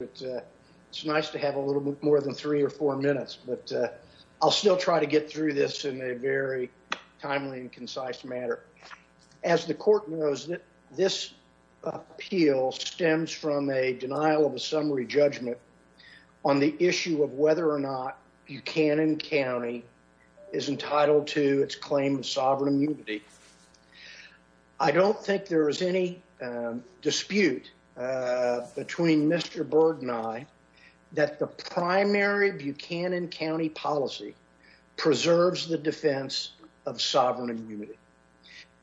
It's nice to have a little bit more than three or four minutes, but I'll still try to get through this in a very timely and concise matter. As the court knows, this appeal stems from a denial of a summary judgment on the issue of whether or not Buchanan County is entitled to its claim of sovereign immunity. I don't think there is any dispute between Mr. Berg and I that the primary Buchanan County policy preserves the defense of sovereign immunity.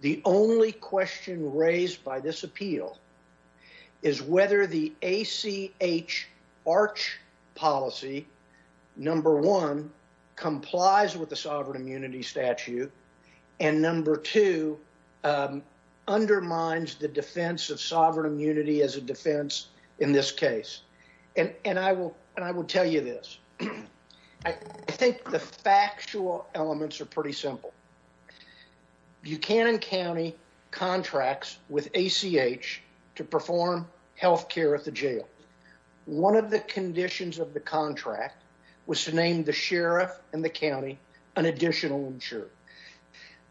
The only question raised by this appeal is whether the ACH ARCH policy, number one, complies with the sovereign immunity statute, and number two, undermines the defense of sovereign immunity as a defense in this case. And I will tell you this, I think the factual elements are pretty simple. Buchanan County contracts with ACH to perform healthcare at the jail. One of the conditions of the contract was to name the sheriff and the county an additional insurer.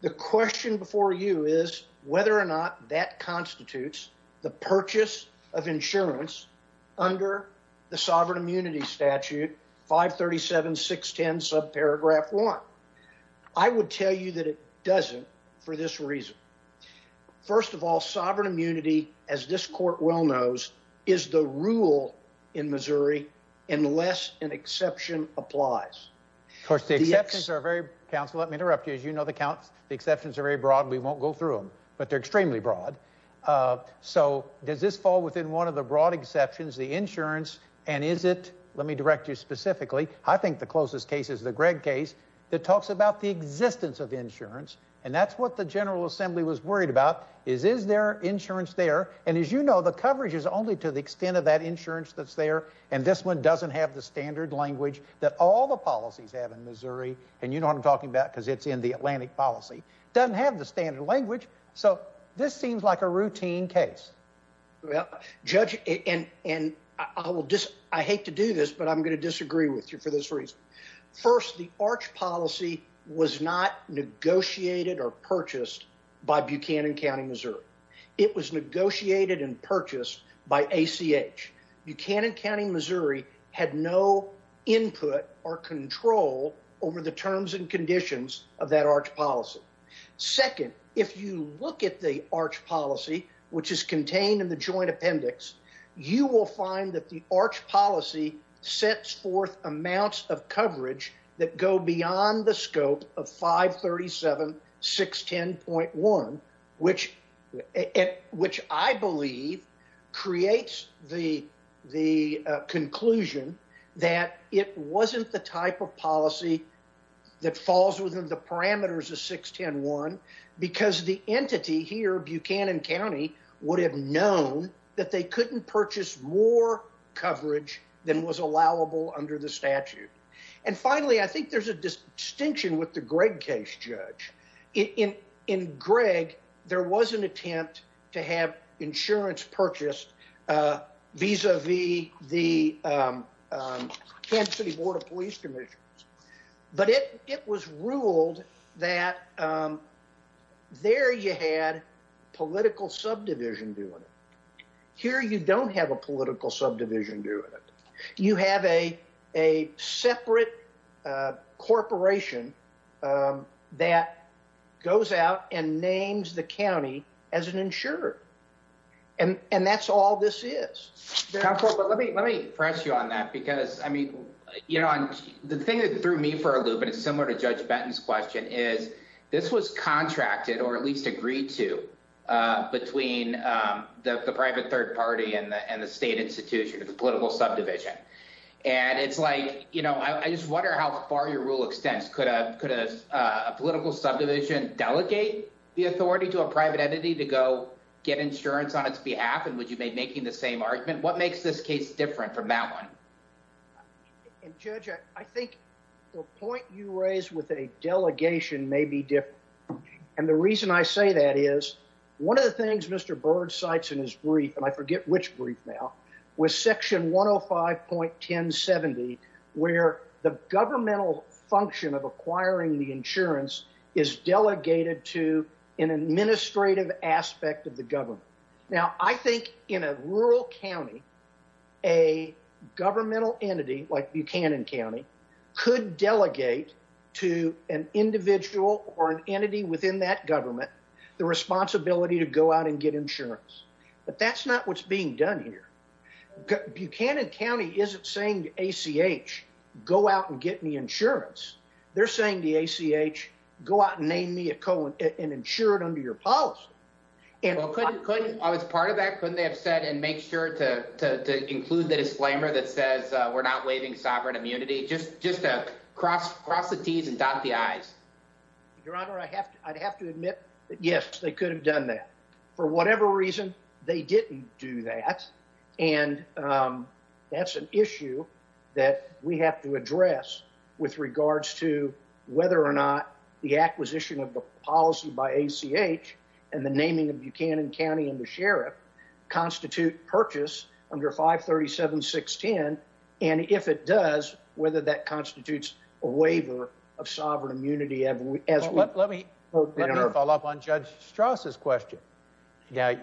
The question before you is whether or not that constitutes the purchase of insurance under the sovereign immunity statute, 537-610, subparagraph one. I would tell you that it doesn't for this reason. First of all, sovereign immunity, as this court well knows, is the rule in Missouri, unless an exception applies. The exceptions are very broad, we won't go through them, but they're extremely broad. So does this fall within one of the broad exceptions, the insurance, and is it, let me direct you specifically, I think the closest case is the Gregg case, that talks about the existence of insurance. And that's what the General Assembly was worried about, is is there insurance there? And as you know, the coverage is only to the extent of that insurance that's there, and this one doesn't have the standard language that all the policies have in Missouri. And you know what I'm talking about, because it's in the Atlantic policy. Doesn't have the standard language, so this seems like a routine case. Well, Judge, and I hate to do this, but I'm going to disagree with you for this reason. First, the ACH policy was not negotiated or purchased by Buchanan County, Missouri. It was negotiated and purchased by ACH. Buchanan County, Missouri had no input or control over the terms and conditions of that ACH policy. Second, if you look at the ACH policy, which is contained in the joint appendix, you will find that the ACH policy sets forth amounts of coverage that go beyond the scope of 537, 610.1, which I believe creates the conclusion that it wasn't the type of policy that falls within the parameters of 610.1. Because the entity here, Buchanan County, would have known that they couldn't purchase more coverage than was allowable under the statute. And finally, I think there's a distinction with the Gregg case, Judge. In Gregg, there was an attempt to have insurance purchased vis-a-vis the Kansas City Board of Police Commissions. But it was ruled that there you had political subdivision doing it. Here you don't have a political subdivision doing it. You have a separate corporation that goes out and names the county as an insurer. And that's all this is. Let me press you on that. The thing that threw me for a loop, and it's similar to Judge Benton's question, is this was contracted, or at least agreed to, between the private third party and the state institution, the political subdivision. And it's like, you know, I just wonder how far your rule extends. Could a political subdivision delegate the authority to a private entity to go get insurance on its behalf? And would you be making the same argument? What makes this case different from that one? And, Judge, I think the point you raise with a delegation may be different. And the reason I say that is one of the things Mr. Byrd cites in his brief, and I forget which brief now, was Section 105.1070, where the governmental function of acquiring the insurance is delegated to an administrative aspect of the government. Now, I think in a rural county, a governmental entity like Buchanan County could delegate to an individual or an entity within that government the responsibility to go out and get insurance. But that's not what's being done here. Buchanan County isn't saying to ACH, go out and get me insurance. They're saying to ACH, go out and name me an insurer under your policy. I was part of that. Couldn't they have said, and make sure to include the disclaimer that says we're not waiving sovereign immunity? Just cross the T's and dot the I's. Your Honor, I'd have to admit that, yes, they could have done that. For whatever reason, they didn't do that. And that's an issue that we have to address with regards to whether or not the acquisition of the policy by ACH and the naming of Buchanan County and the sheriff constitute purchase under 537.610, and if it does, whether that constitutes a waiver of sovereign immunity. Let me follow up on Judge Strauss' question. Now,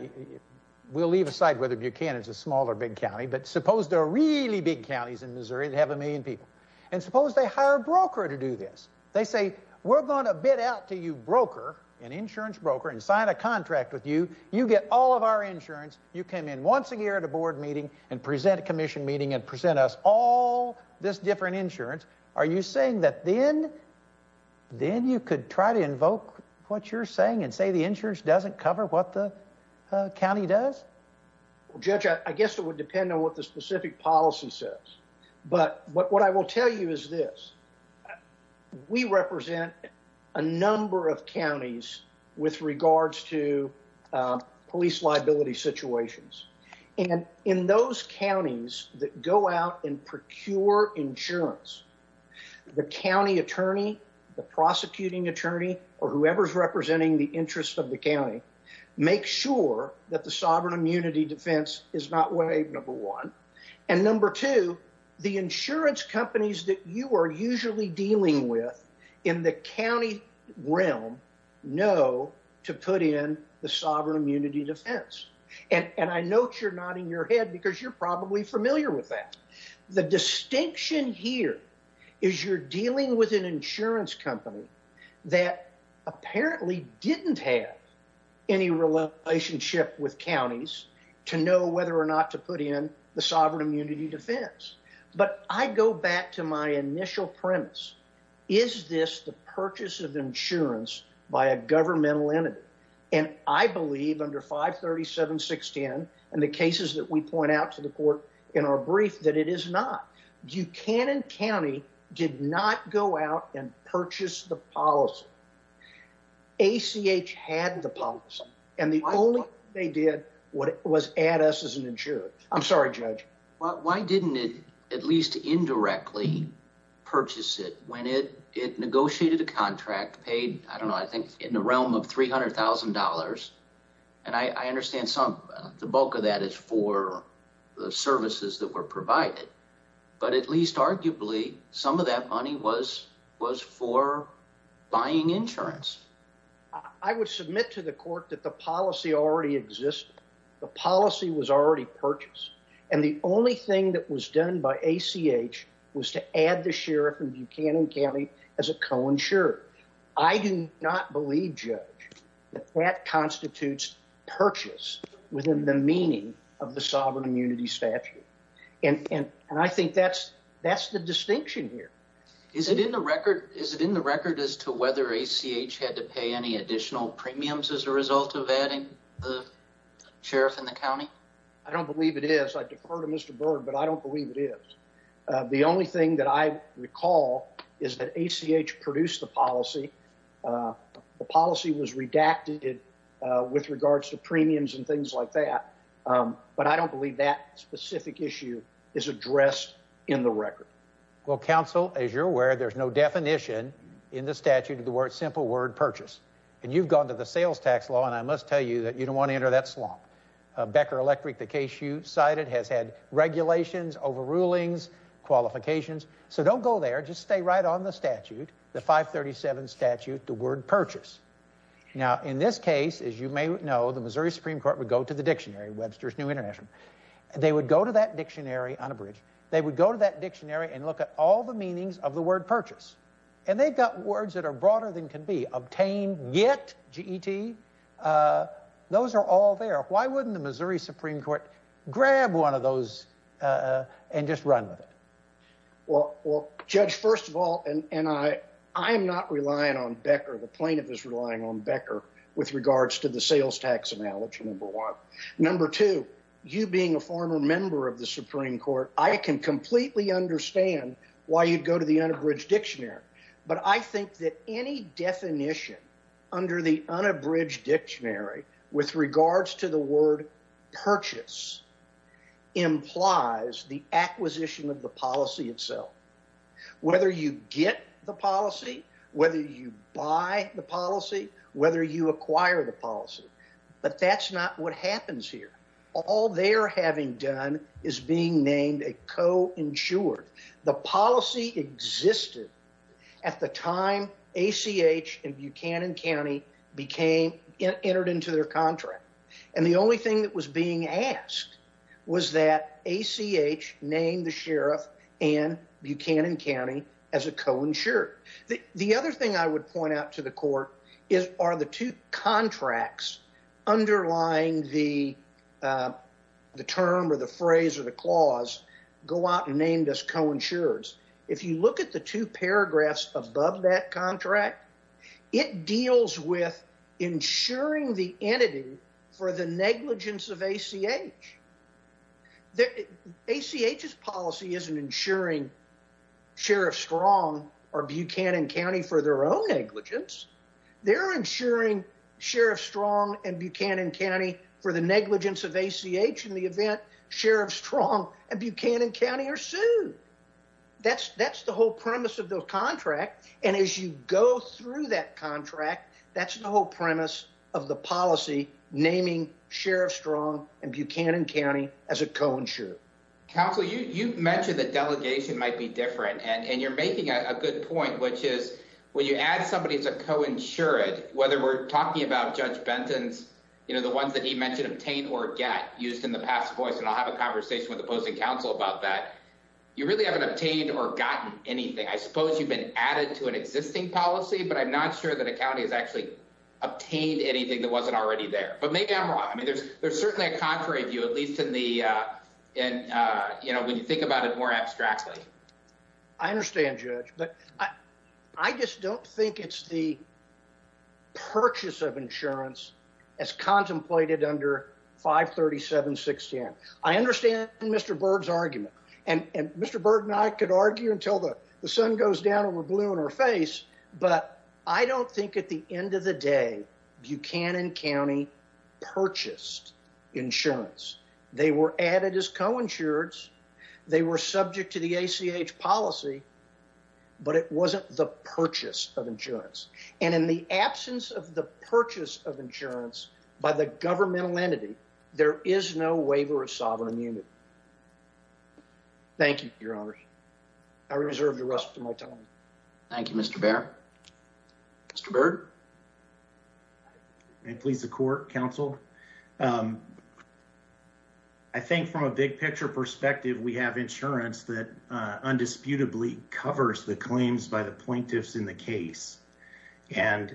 we'll leave aside whether Buchanan's a small or big county, but suppose there are really big counties in Missouri that have a million people. And suppose they hire a broker to do this. They say, we're going to bid out to you, broker, an insurance broker, and sign a contract with you. You get all of our insurance. You come in once a year at a board meeting and present a commission meeting and present us all this different insurance. Are you saying that then you could try to invoke what you're saying and say the insurance doesn't cover what the county does? Judge, I guess it would depend on what the specific policy says. But what I will tell you is this. We represent a number of counties with regards to police liability situations. And in those counties that go out and procure insurance, the county attorney, the prosecuting attorney, or whoever's representing the interest of the county, make sure that the sovereign immunity defense is not waived, number one. And number two, the insurance companies that you are usually dealing with in the county realm know to put in the sovereign immunity defense. And I note you're nodding your head because you're probably familiar with that. The distinction here is you're dealing with an insurance company that apparently didn't have any relationship with counties to know whether or not to put in the sovereign immunity defense. But I go back to my initial premise. Is this the purchase of insurance by a governmental entity? And I believe under 537-610 and the cases that we point out to the court in our brief that it is not. Buchanan County did not go out and purchase the policy. ACH had the policy. And the only thing they did was add us as an insurer. I'm sorry, Judge. Why didn't it at least indirectly purchase it when it negotiated a contract paid, I don't know, I think in the realm of $300,000? And I understand some of the bulk of that is for the services that were provided. But at least arguably some of that money was for buying insurance. I would submit to the court that the policy already existed. The policy was already purchased. And the only thing that was done by ACH was to add the sheriff in Buchanan County as a co-insurer. I do not believe, Judge, that that constitutes purchase within the meaning of the sovereign immunity statute. And I think that's the distinction here. Is it in the record as to whether ACH had to pay any additional premiums as a result of adding the sheriff in the county? I don't believe it is. I defer to Mr. Byrd, but I don't believe it is. The only thing that I recall is that ACH produced the policy. The policy was redacted with regards to premiums and things like that. But I don't believe that specific issue is addressed in the record. Well, counsel, as you're aware, there's no definition in the statute of the word simple word purchase. And you've gone to the sales tax law, and I must tell you that you don't want to enter that slump. Becker Electric, the case you cited, has had regulations, overrulings, qualifications. So don't go there. Just stay right on the statute, the 537 statute, the word purchase. Now, in this case, as you may know, the Missouri Supreme Court would go to the dictionary, Webster's New International. They would go to that dictionary on a bridge. They would go to that dictionary and look at all the meanings of the word purchase. And they've got words that are broader than can be, obtain, get, G-E-T. Those are all there. Why wouldn't the Missouri Supreme Court grab one of those and just run with it? Well, Judge, first of all, and I am not relying on Becker. The plaintiff is relying on Becker with regards to the sales tax analogy, number one. Number two, you being a former member of the Supreme Court, I can completely understand why you'd go to the unabridged dictionary. But I think that any definition under the unabridged dictionary with regards to the word purchase implies the acquisition of the policy itself. Whether you get the policy, whether you buy the policy, whether you acquire the policy. But that's not what happens here. All they're having done is being named a co-insured. The policy existed at the time ACH and Buchanan County entered into their contract. And the only thing that was being asked was that ACH name the sheriff and Buchanan County as a co-insured. The other thing I would point out to the court are the two contracts underlying the term or the phrase or the clause, go out and name this co-insured. If you look at the two paragraphs above that contract, it deals with insuring the entity for the negligence of ACH. ACH's policy isn't insuring Sheriff Strong or Buchanan County for their own negligence. They're insuring Sheriff Strong and Buchanan County for the negligence of ACH in the event Sheriff Strong and Buchanan County are sued. That's the whole premise of the contract. And as you go through that contract, that's the whole premise of the policy naming Sheriff Strong and Buchanan County as a co-insured. Counsel, you mentioned that delegation might be different. And you're making a good point, which is when you add somebody as a co-insured, whether we're talking about Judge Benton's, you know, the ones that he mentioned obtain or get used in the past voice. And I'll have a conversation with the opposing counsel about that. You really haven't obtained or gotten anything. I suppose you've been added to an existing policy, but I'm not sure that a county has actually obtained anything that wasn't already there. But maybe I'm wrong. I mean, there's certainly a contrary view, at least in the, you know, when you think about it more abstractly. I understand, Judge. But I just don't think it's the purchase of insurance as contemplated under 537-610. I understand Mr. Byrd's argument. And Mr. Byrd and I could argue until the sun goes down and we're blue in our face. But I don't think at the end of the day, Buchanan County purchased insurance. They were added as co-insureds. They were subject to the ACH policy. But it wasn't the purchase of insurance. And in the absence of the purchase of insurance by the governmental entity, there is no waiver of sovereign immunity. Thank you, Your Honor. I reserve the rest of my time. Thank you, Mr. Baird. Mr. Byrd. May it please the court, counsel. I think from a big-picture perspective, we have insurance that undisputably covers the claims by the plaintiffs in the case. And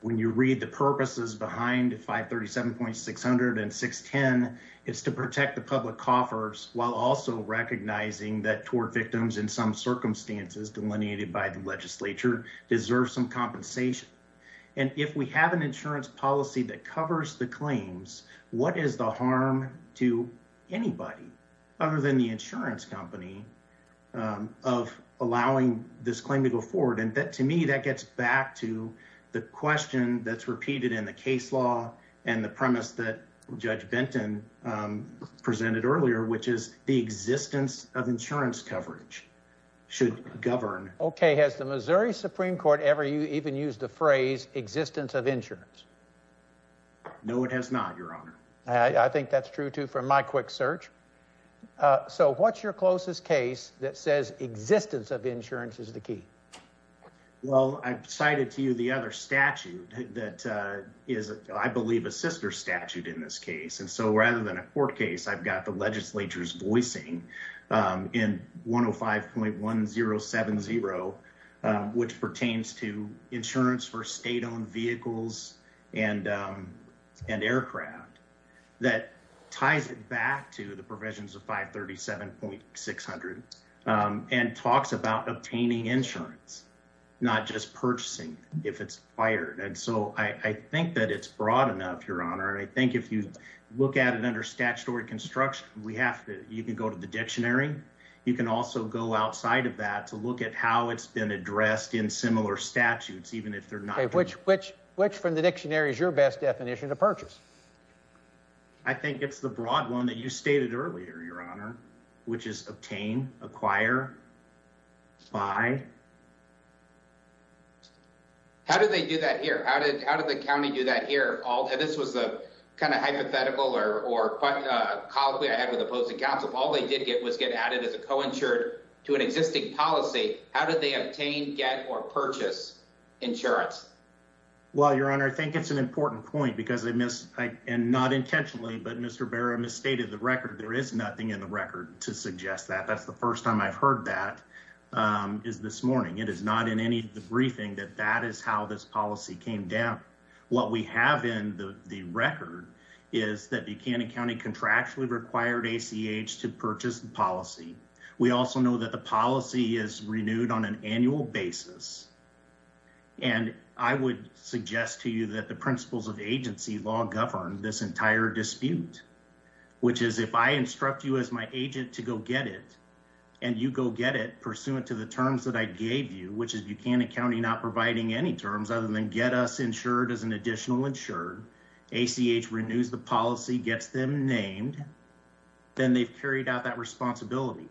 when you read the purposes behind 537.600 and 610, it's to protect the public coffers while also recognizing that tort victims in some circumstances delineated by the legislature deserve some compensation. And if we have an insurance policy that covers the claims, what is the harm to anybody other than the insurance company of allowing this claim to go forward? And to me, that gets back to the question that's repeated in the case law and the premise that Judge Benton presented earlier, which is the existence of insurance coverage should govern. Okay. Has the Missouri Supreme Court ever even used the phrase existence of insurance? No, it has not, Your Honor. I think that's true, too, from my quick search. So what's your closest case that says existence of insurance is the key? Well, I've cited to you the other statute that is, I believe, a sister statute in this case. And so rather than a court case, I've got the legislature's voicing in 105.1070, which pertains to insurance for state-owned vehicles and aircraft that ties it back to the provisions of 537.600 and talks about obtaining insurance, not just purchasing if it's fired. And so I think that it's broad enough, Your Honor. I think if you look at it under statutory construction, you can go to the dictionary. You can also go outside of that to look at how it's been addressed in similar statutes, even if they're not. Which from the dictionary is your best definition to purchase? I think it's the broad one that you stated earlier, Your Honor, which is obtain, acquire, buy. How did they do that here? How did the county do that here? This was a kind of hypothetical or quite a colloquy I had with opposing counsel. All they did get was get added as a co-insured to an existing policy. How did they obtain, get, or purchase insurance? Well, Your Honor, I think it's an important point because I missed, and not intentionally, but Mr. Berra misstated the record. There is nothing in the record to suggest that. That's the first time I've heard that is this morning. It is not in any of the briefing that that is how this policy came down. What we have in the record is that Buchanan County contractually required ACH to purchase the policy. We also know that the policy is renewed on an annual basis. And I would suggest to you that the principles of agency law govern this entire dispute, which is if I instruct you as my agent to go get it, and you go get it pursuant to the terms that I gave you, which is Buchanan County not providing any terms other than get us insured as an additional insured, ACH renews the policy, gets them named, then they've carried out that responsibility.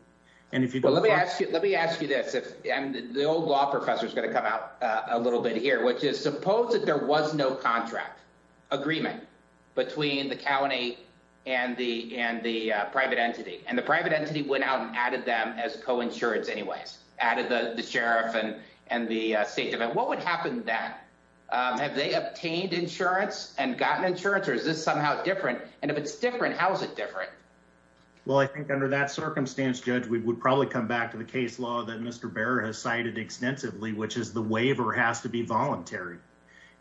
Let me ask you this. The old law professor is going to come out a little bit here, which is suppose that there was no contract agreement between the county and the private entity, and the private entity went out and added them as coinsurance anyways, added the sheriff and the state. What would happen then? Have they obtained insurance and gotten insurance, or is this somehow different? And if it's different, how is it different? Well, I think under that circumstance, Judge, we would probably come back to the case law that Mr. Bearer has cited extensively, which is the waiver has to be voluntary.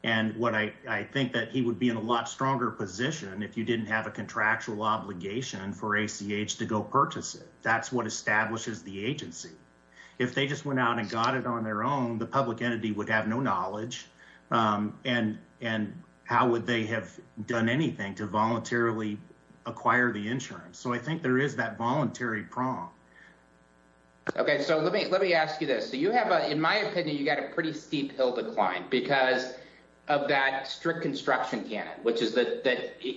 And what I think that he would be in a lot stronger position if you didn't have a contractual obligation for ACH to go purchase it. That's what establishes the agency. If they just went out and got it on their own, the public entity would have no knowledge. And how would they have done anything to voluntarily acquire the insurance? So I think there is that voluntary prong. Okay, so let me ask you this. In my opinion, you've got a pretty steep hill to climb because of that strict construction canon, which is that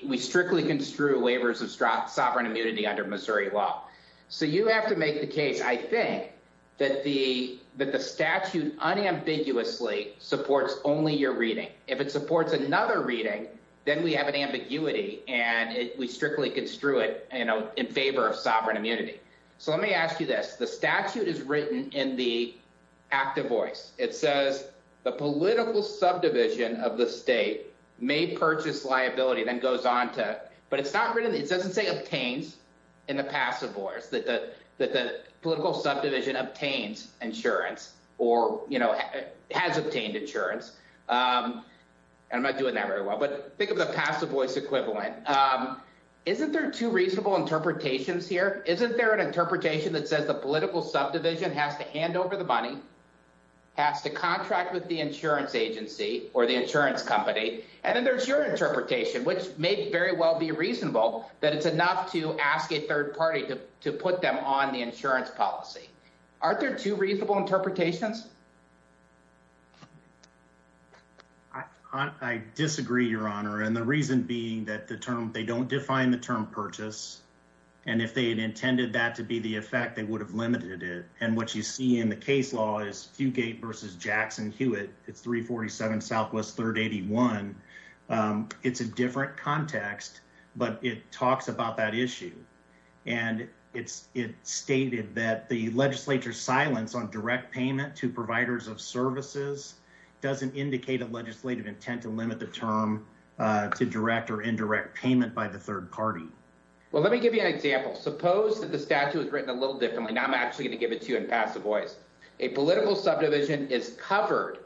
we strictly construe waivers of sovereign immunity under Missouri law. So you have to make the case, I think, that the statute unambiguously supports only your reading. If it supports another reading, then we have an ambiguity and we strictly construe it in favor of sovereign immunity. So let me ask you this. The statute is written in the active voice. It says the political subdivision of the state may purchase liability, then goes on to. But it's not written. It doesn't say obtains in the passive voice that the political subdivision obtains insurance or has obtained insurance. And I'm not doing that very well. But think of the passive voice equivalent. Isn't there two reasonable interpretations here? Isn't there an interpretation that says the political subdivision has to hand over the money, has to contract with the insurance agency or the insurance company? And then there's your interpretation, which may very well be reasonable, that it's enough to ask a third party to put them on the insurance policy. Aren't there two reasonable interpretations? I disagree, Your Honor. And the reason being that they don't define the term purchase. And if they had intended that to be the effect, they would have limited it. And what you see in the case law is Fugate versus Jackson Hewitt. It's 347 Southwest 381. It's a different context, but it talks about that issue. And it stated that the legislature's silence on direct payment to providers of services doesn't indicate a legislative intent to limit the term to direct or indirect payment by the third party. Well, let me give you an example. Suppose that the statute was written a little differently. Now I'm actually going to give it to you in passive voice. A political subdivision is covered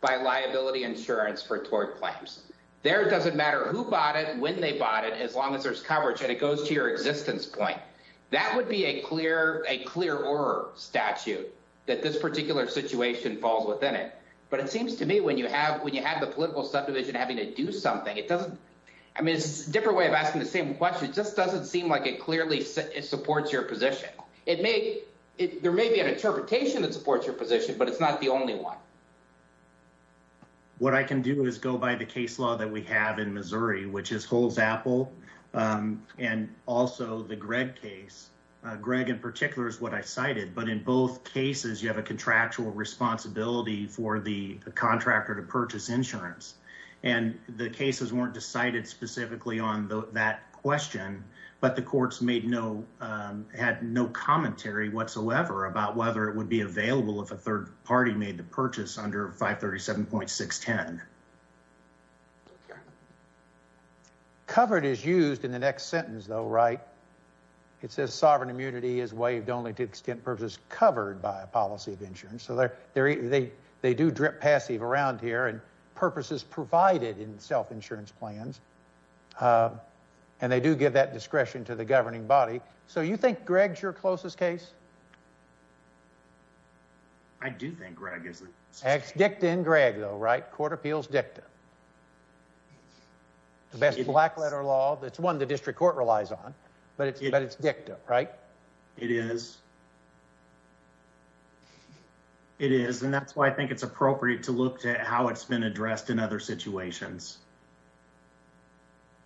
by liability insurance for tort claims. There it doesn't matter who bought it, when they bought it, as long as there's coverage, and it goes to your existence point. That would be a clearer statute that this particular situation falls within it. But it seems to me when you have the political subdivision having to do something, it doesn't – I mean, it's a different way of asking the same question. It just doesn't seem like it clearly supports your position. It may – there may be an interpretation that supports your position, but it's not the only one. What I can do is go by the case law that we have in Missouri, which is Hull's Apple, and also the Gregg case. Gregg in particular is what I cited, but in both cases you have a contractual responsibility for the contractor to purchase insurance. And the cases weren't decided specifically on that question, but the courts made no – had no commentary whatsoever about whether it would be available if a third party made the purchase under 537.610. Covered is used in the next sentence, though, right? It says sovereign immunity is waived only to the extent purposes covered by a policy of insurance. So they do drip passive around here, and purposes provided in self-insurance plans. And they do give that discretion to the governing body. So you think Gregg's your closest case? I do think Gregg is. It's dicta in Gregg, though, right? Court appeals dicta. The best black letter law. It's one the district court relies on, but it's dicta, right? It is. It is, and that's why I think it's appropriate to look at how it's been addressed in other situations.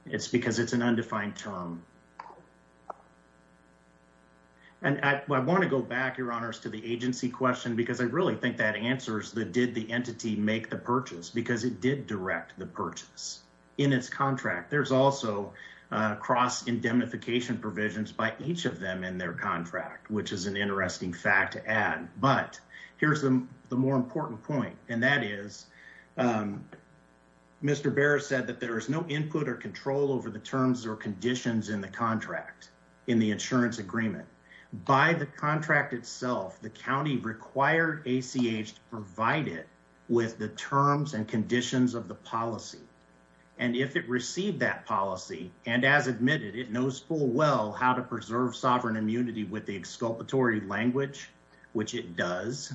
It's because it's an undefined term. And I want to go back, Your Honors, to the agency question, because I really think that answers the did the entity make the purchase, because it did direct the purchase in its contract. There's also cross-indemnification provisions by each of them in their contract, which is an interesting fact to add. But here's the more important point, and that is Mr. Behr said that there is no input or control over the terms or conditions in the contract in the insurance agreement. By the contract itself, the county required ACH to provide it with the terms and conditions of the policy. And if it received that policy, and as admitted, it knows full well how to preserve sovereign immunity with the exculpatory language, which it does,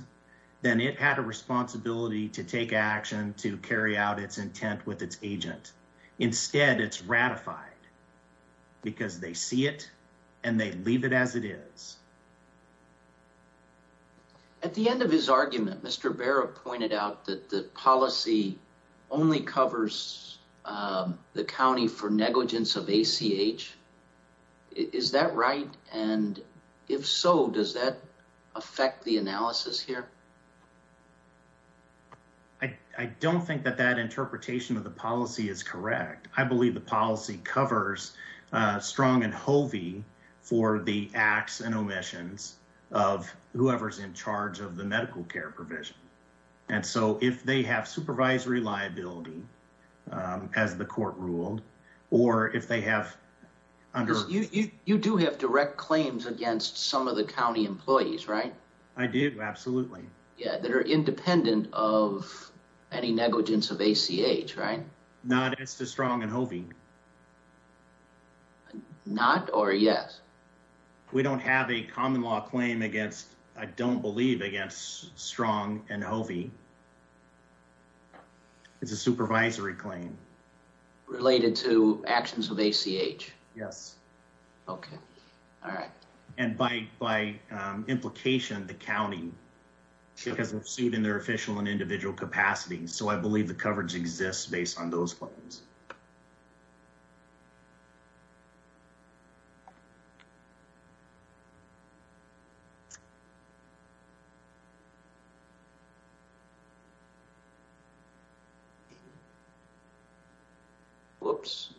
then it had a responsibility to take action to carry out its intent with its agent. Instead, it's ratified because they see it and they leave it as it is. At the end of his argument, Mr. Behr pointed out that the policy only covers the county for negligence of ACH. Is that right? And if so, does that affect the analysis here? I don't think that that interpretation of the policy is correct. I believe the policy covers strong and hovey for the acts and omissions of whoever's in charge of the medical care provision. And so if they have supervisory liability, as the court ruled, or if they have. You do have direct claims against some of the county employees, right? I do. Absolutely. Yeah, that are independent of any negligence of ACH, right? Not as to strong and hovey. Not or yes. We don't have a common law claim against, I don't believe, against strong and hovey. It's a supervisory claim. Related to actions of ACH. Yes. Okay. All right. And by implication, the county has sued in their official and individual capacities. So I believe the coverage exists based on those claims. Whoops.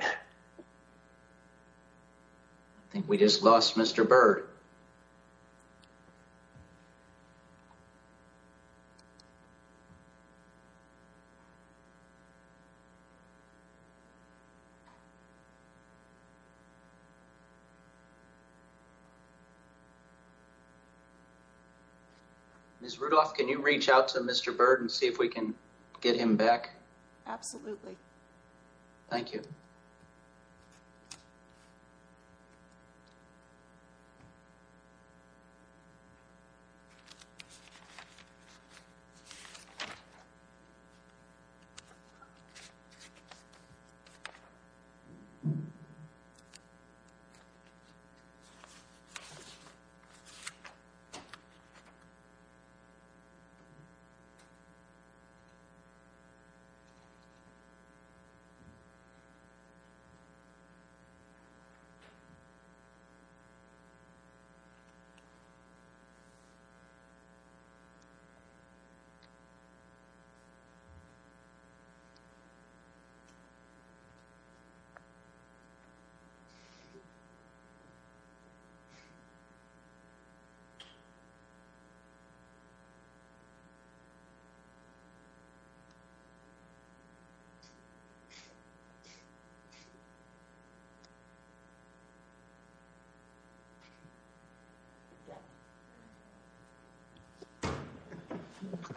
I think we just lost Mr. Bird. Ms. Rudolph, can you reach out to Mr. Bird and see if we can get him back? Absolutely. Thank you. Thank you. Thank you.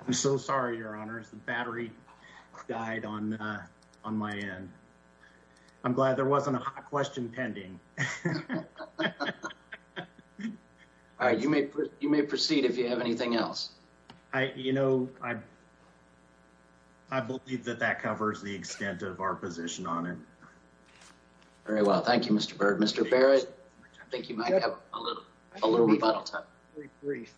I'm so sorry, Your Honors. The battery died on my end. I'm glad there wasn't a hot question pending. All right. You may proceed if you have anything else. You know, I believe that that covers the extent of our position on it. Very well. Thank you, Mr. Bird. Mr. Barrett, I think you might have a little rebuttal time. Very brief.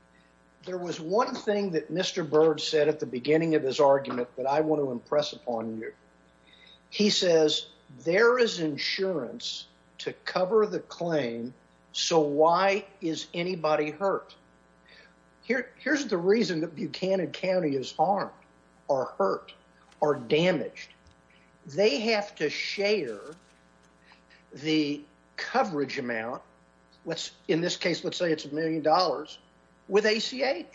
There was one thing that Mr. Bird said at the beginning of his argument that I want to impress upon you. He says, there is insurance to cover the claim, so why is anybody hurt? Here's the reason that Buchanan County is harmed or hurt or damaged. They have to share the coverage amount, in this case, let's say it's a million dollars, with ACH.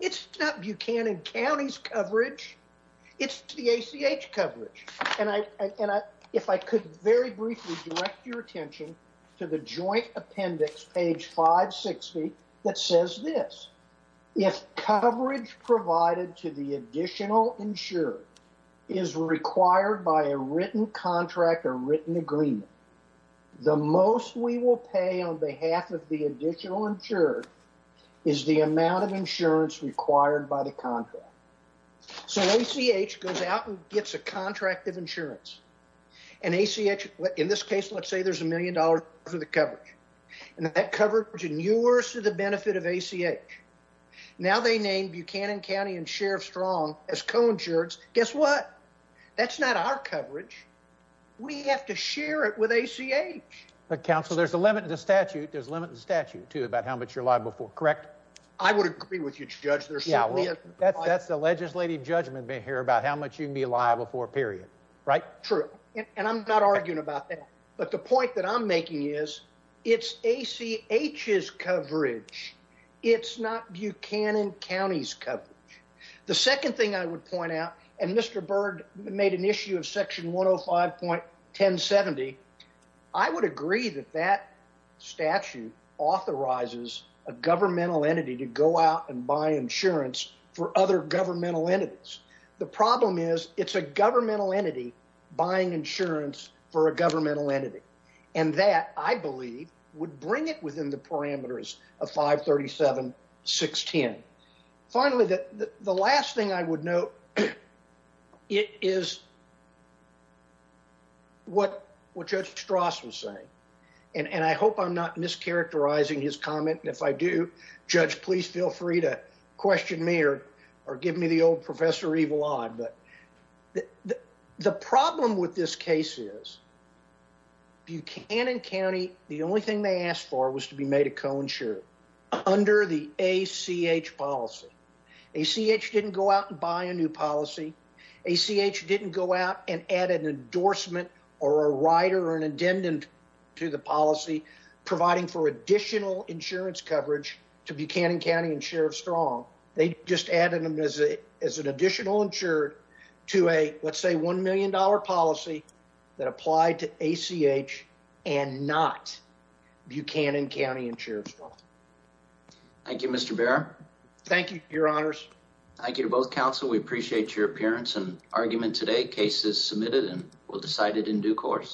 It's not Buchanan County's coverage. It's the ACH coverage. If I could very briefly direct your attention to the joint appendix, page 560, that says this. If coverage provided to the additional insurer is required by a written contract or written agreement, the most we will pay on behalf of the additional insurer is the amount of insurance required by the contract. So ACH goes out and gets a contract of insurance. And ACH, in this case, let's say there's a million dollars worth of coverage. And that coverage inures to the benefit of ACH. Now they name Buchanan County and Sheriff Strong as co-insurance. Guess what? That's not our coverage. We have to share it with ACH. But, counsel, there's a limit to the statute. There's a limit to the statute, too, about how much you're liable for. Correct? I would agree with you, Judge. That's the legislative judgment here about how much you can be liable for, period. Right? True. And I'm not arguing about that. But the point that I'm making is it's ACH's coverage. It's not Buchanan County's coverage. The second thing I would point out, and Mr. Byrd made an issue of Section 105.1070, I would agree that that statute authorizes a governmental entity to go out and buy insurance for other governmental entities. The problem is it's a governmental entity buying insurance for a governmental entity. And that, I believe, would bring it within the parameters of 537.610. Finally, the last thing I would note is what Judge Strauss was saying. And I hope I'm not mischaracterizing his comment. And if I do, Judge, please feel free to question me or give me the old Professor Evil Odd. The problem with this case is Buchanan County, the only thing they asked for was to be made a co-insurer under the ACH policy. ACH didn't go out and buy a new policy. ACH didn't go out and add an endorsement or a rider or an addendum to the policy providing for additional insurance coverage to Buchanan County and Sheriff Strong. They just added them as an additional insurer to a, let's say, $1 million policy that applied to ACH and not Buchanan County and Sheriff Strong. Thank you, Mr. Barrett. Thank you, Your Honors. Thank you to both counsel. We appreciate your appearance and argument today. Case is submitted and we'll decide it in due course.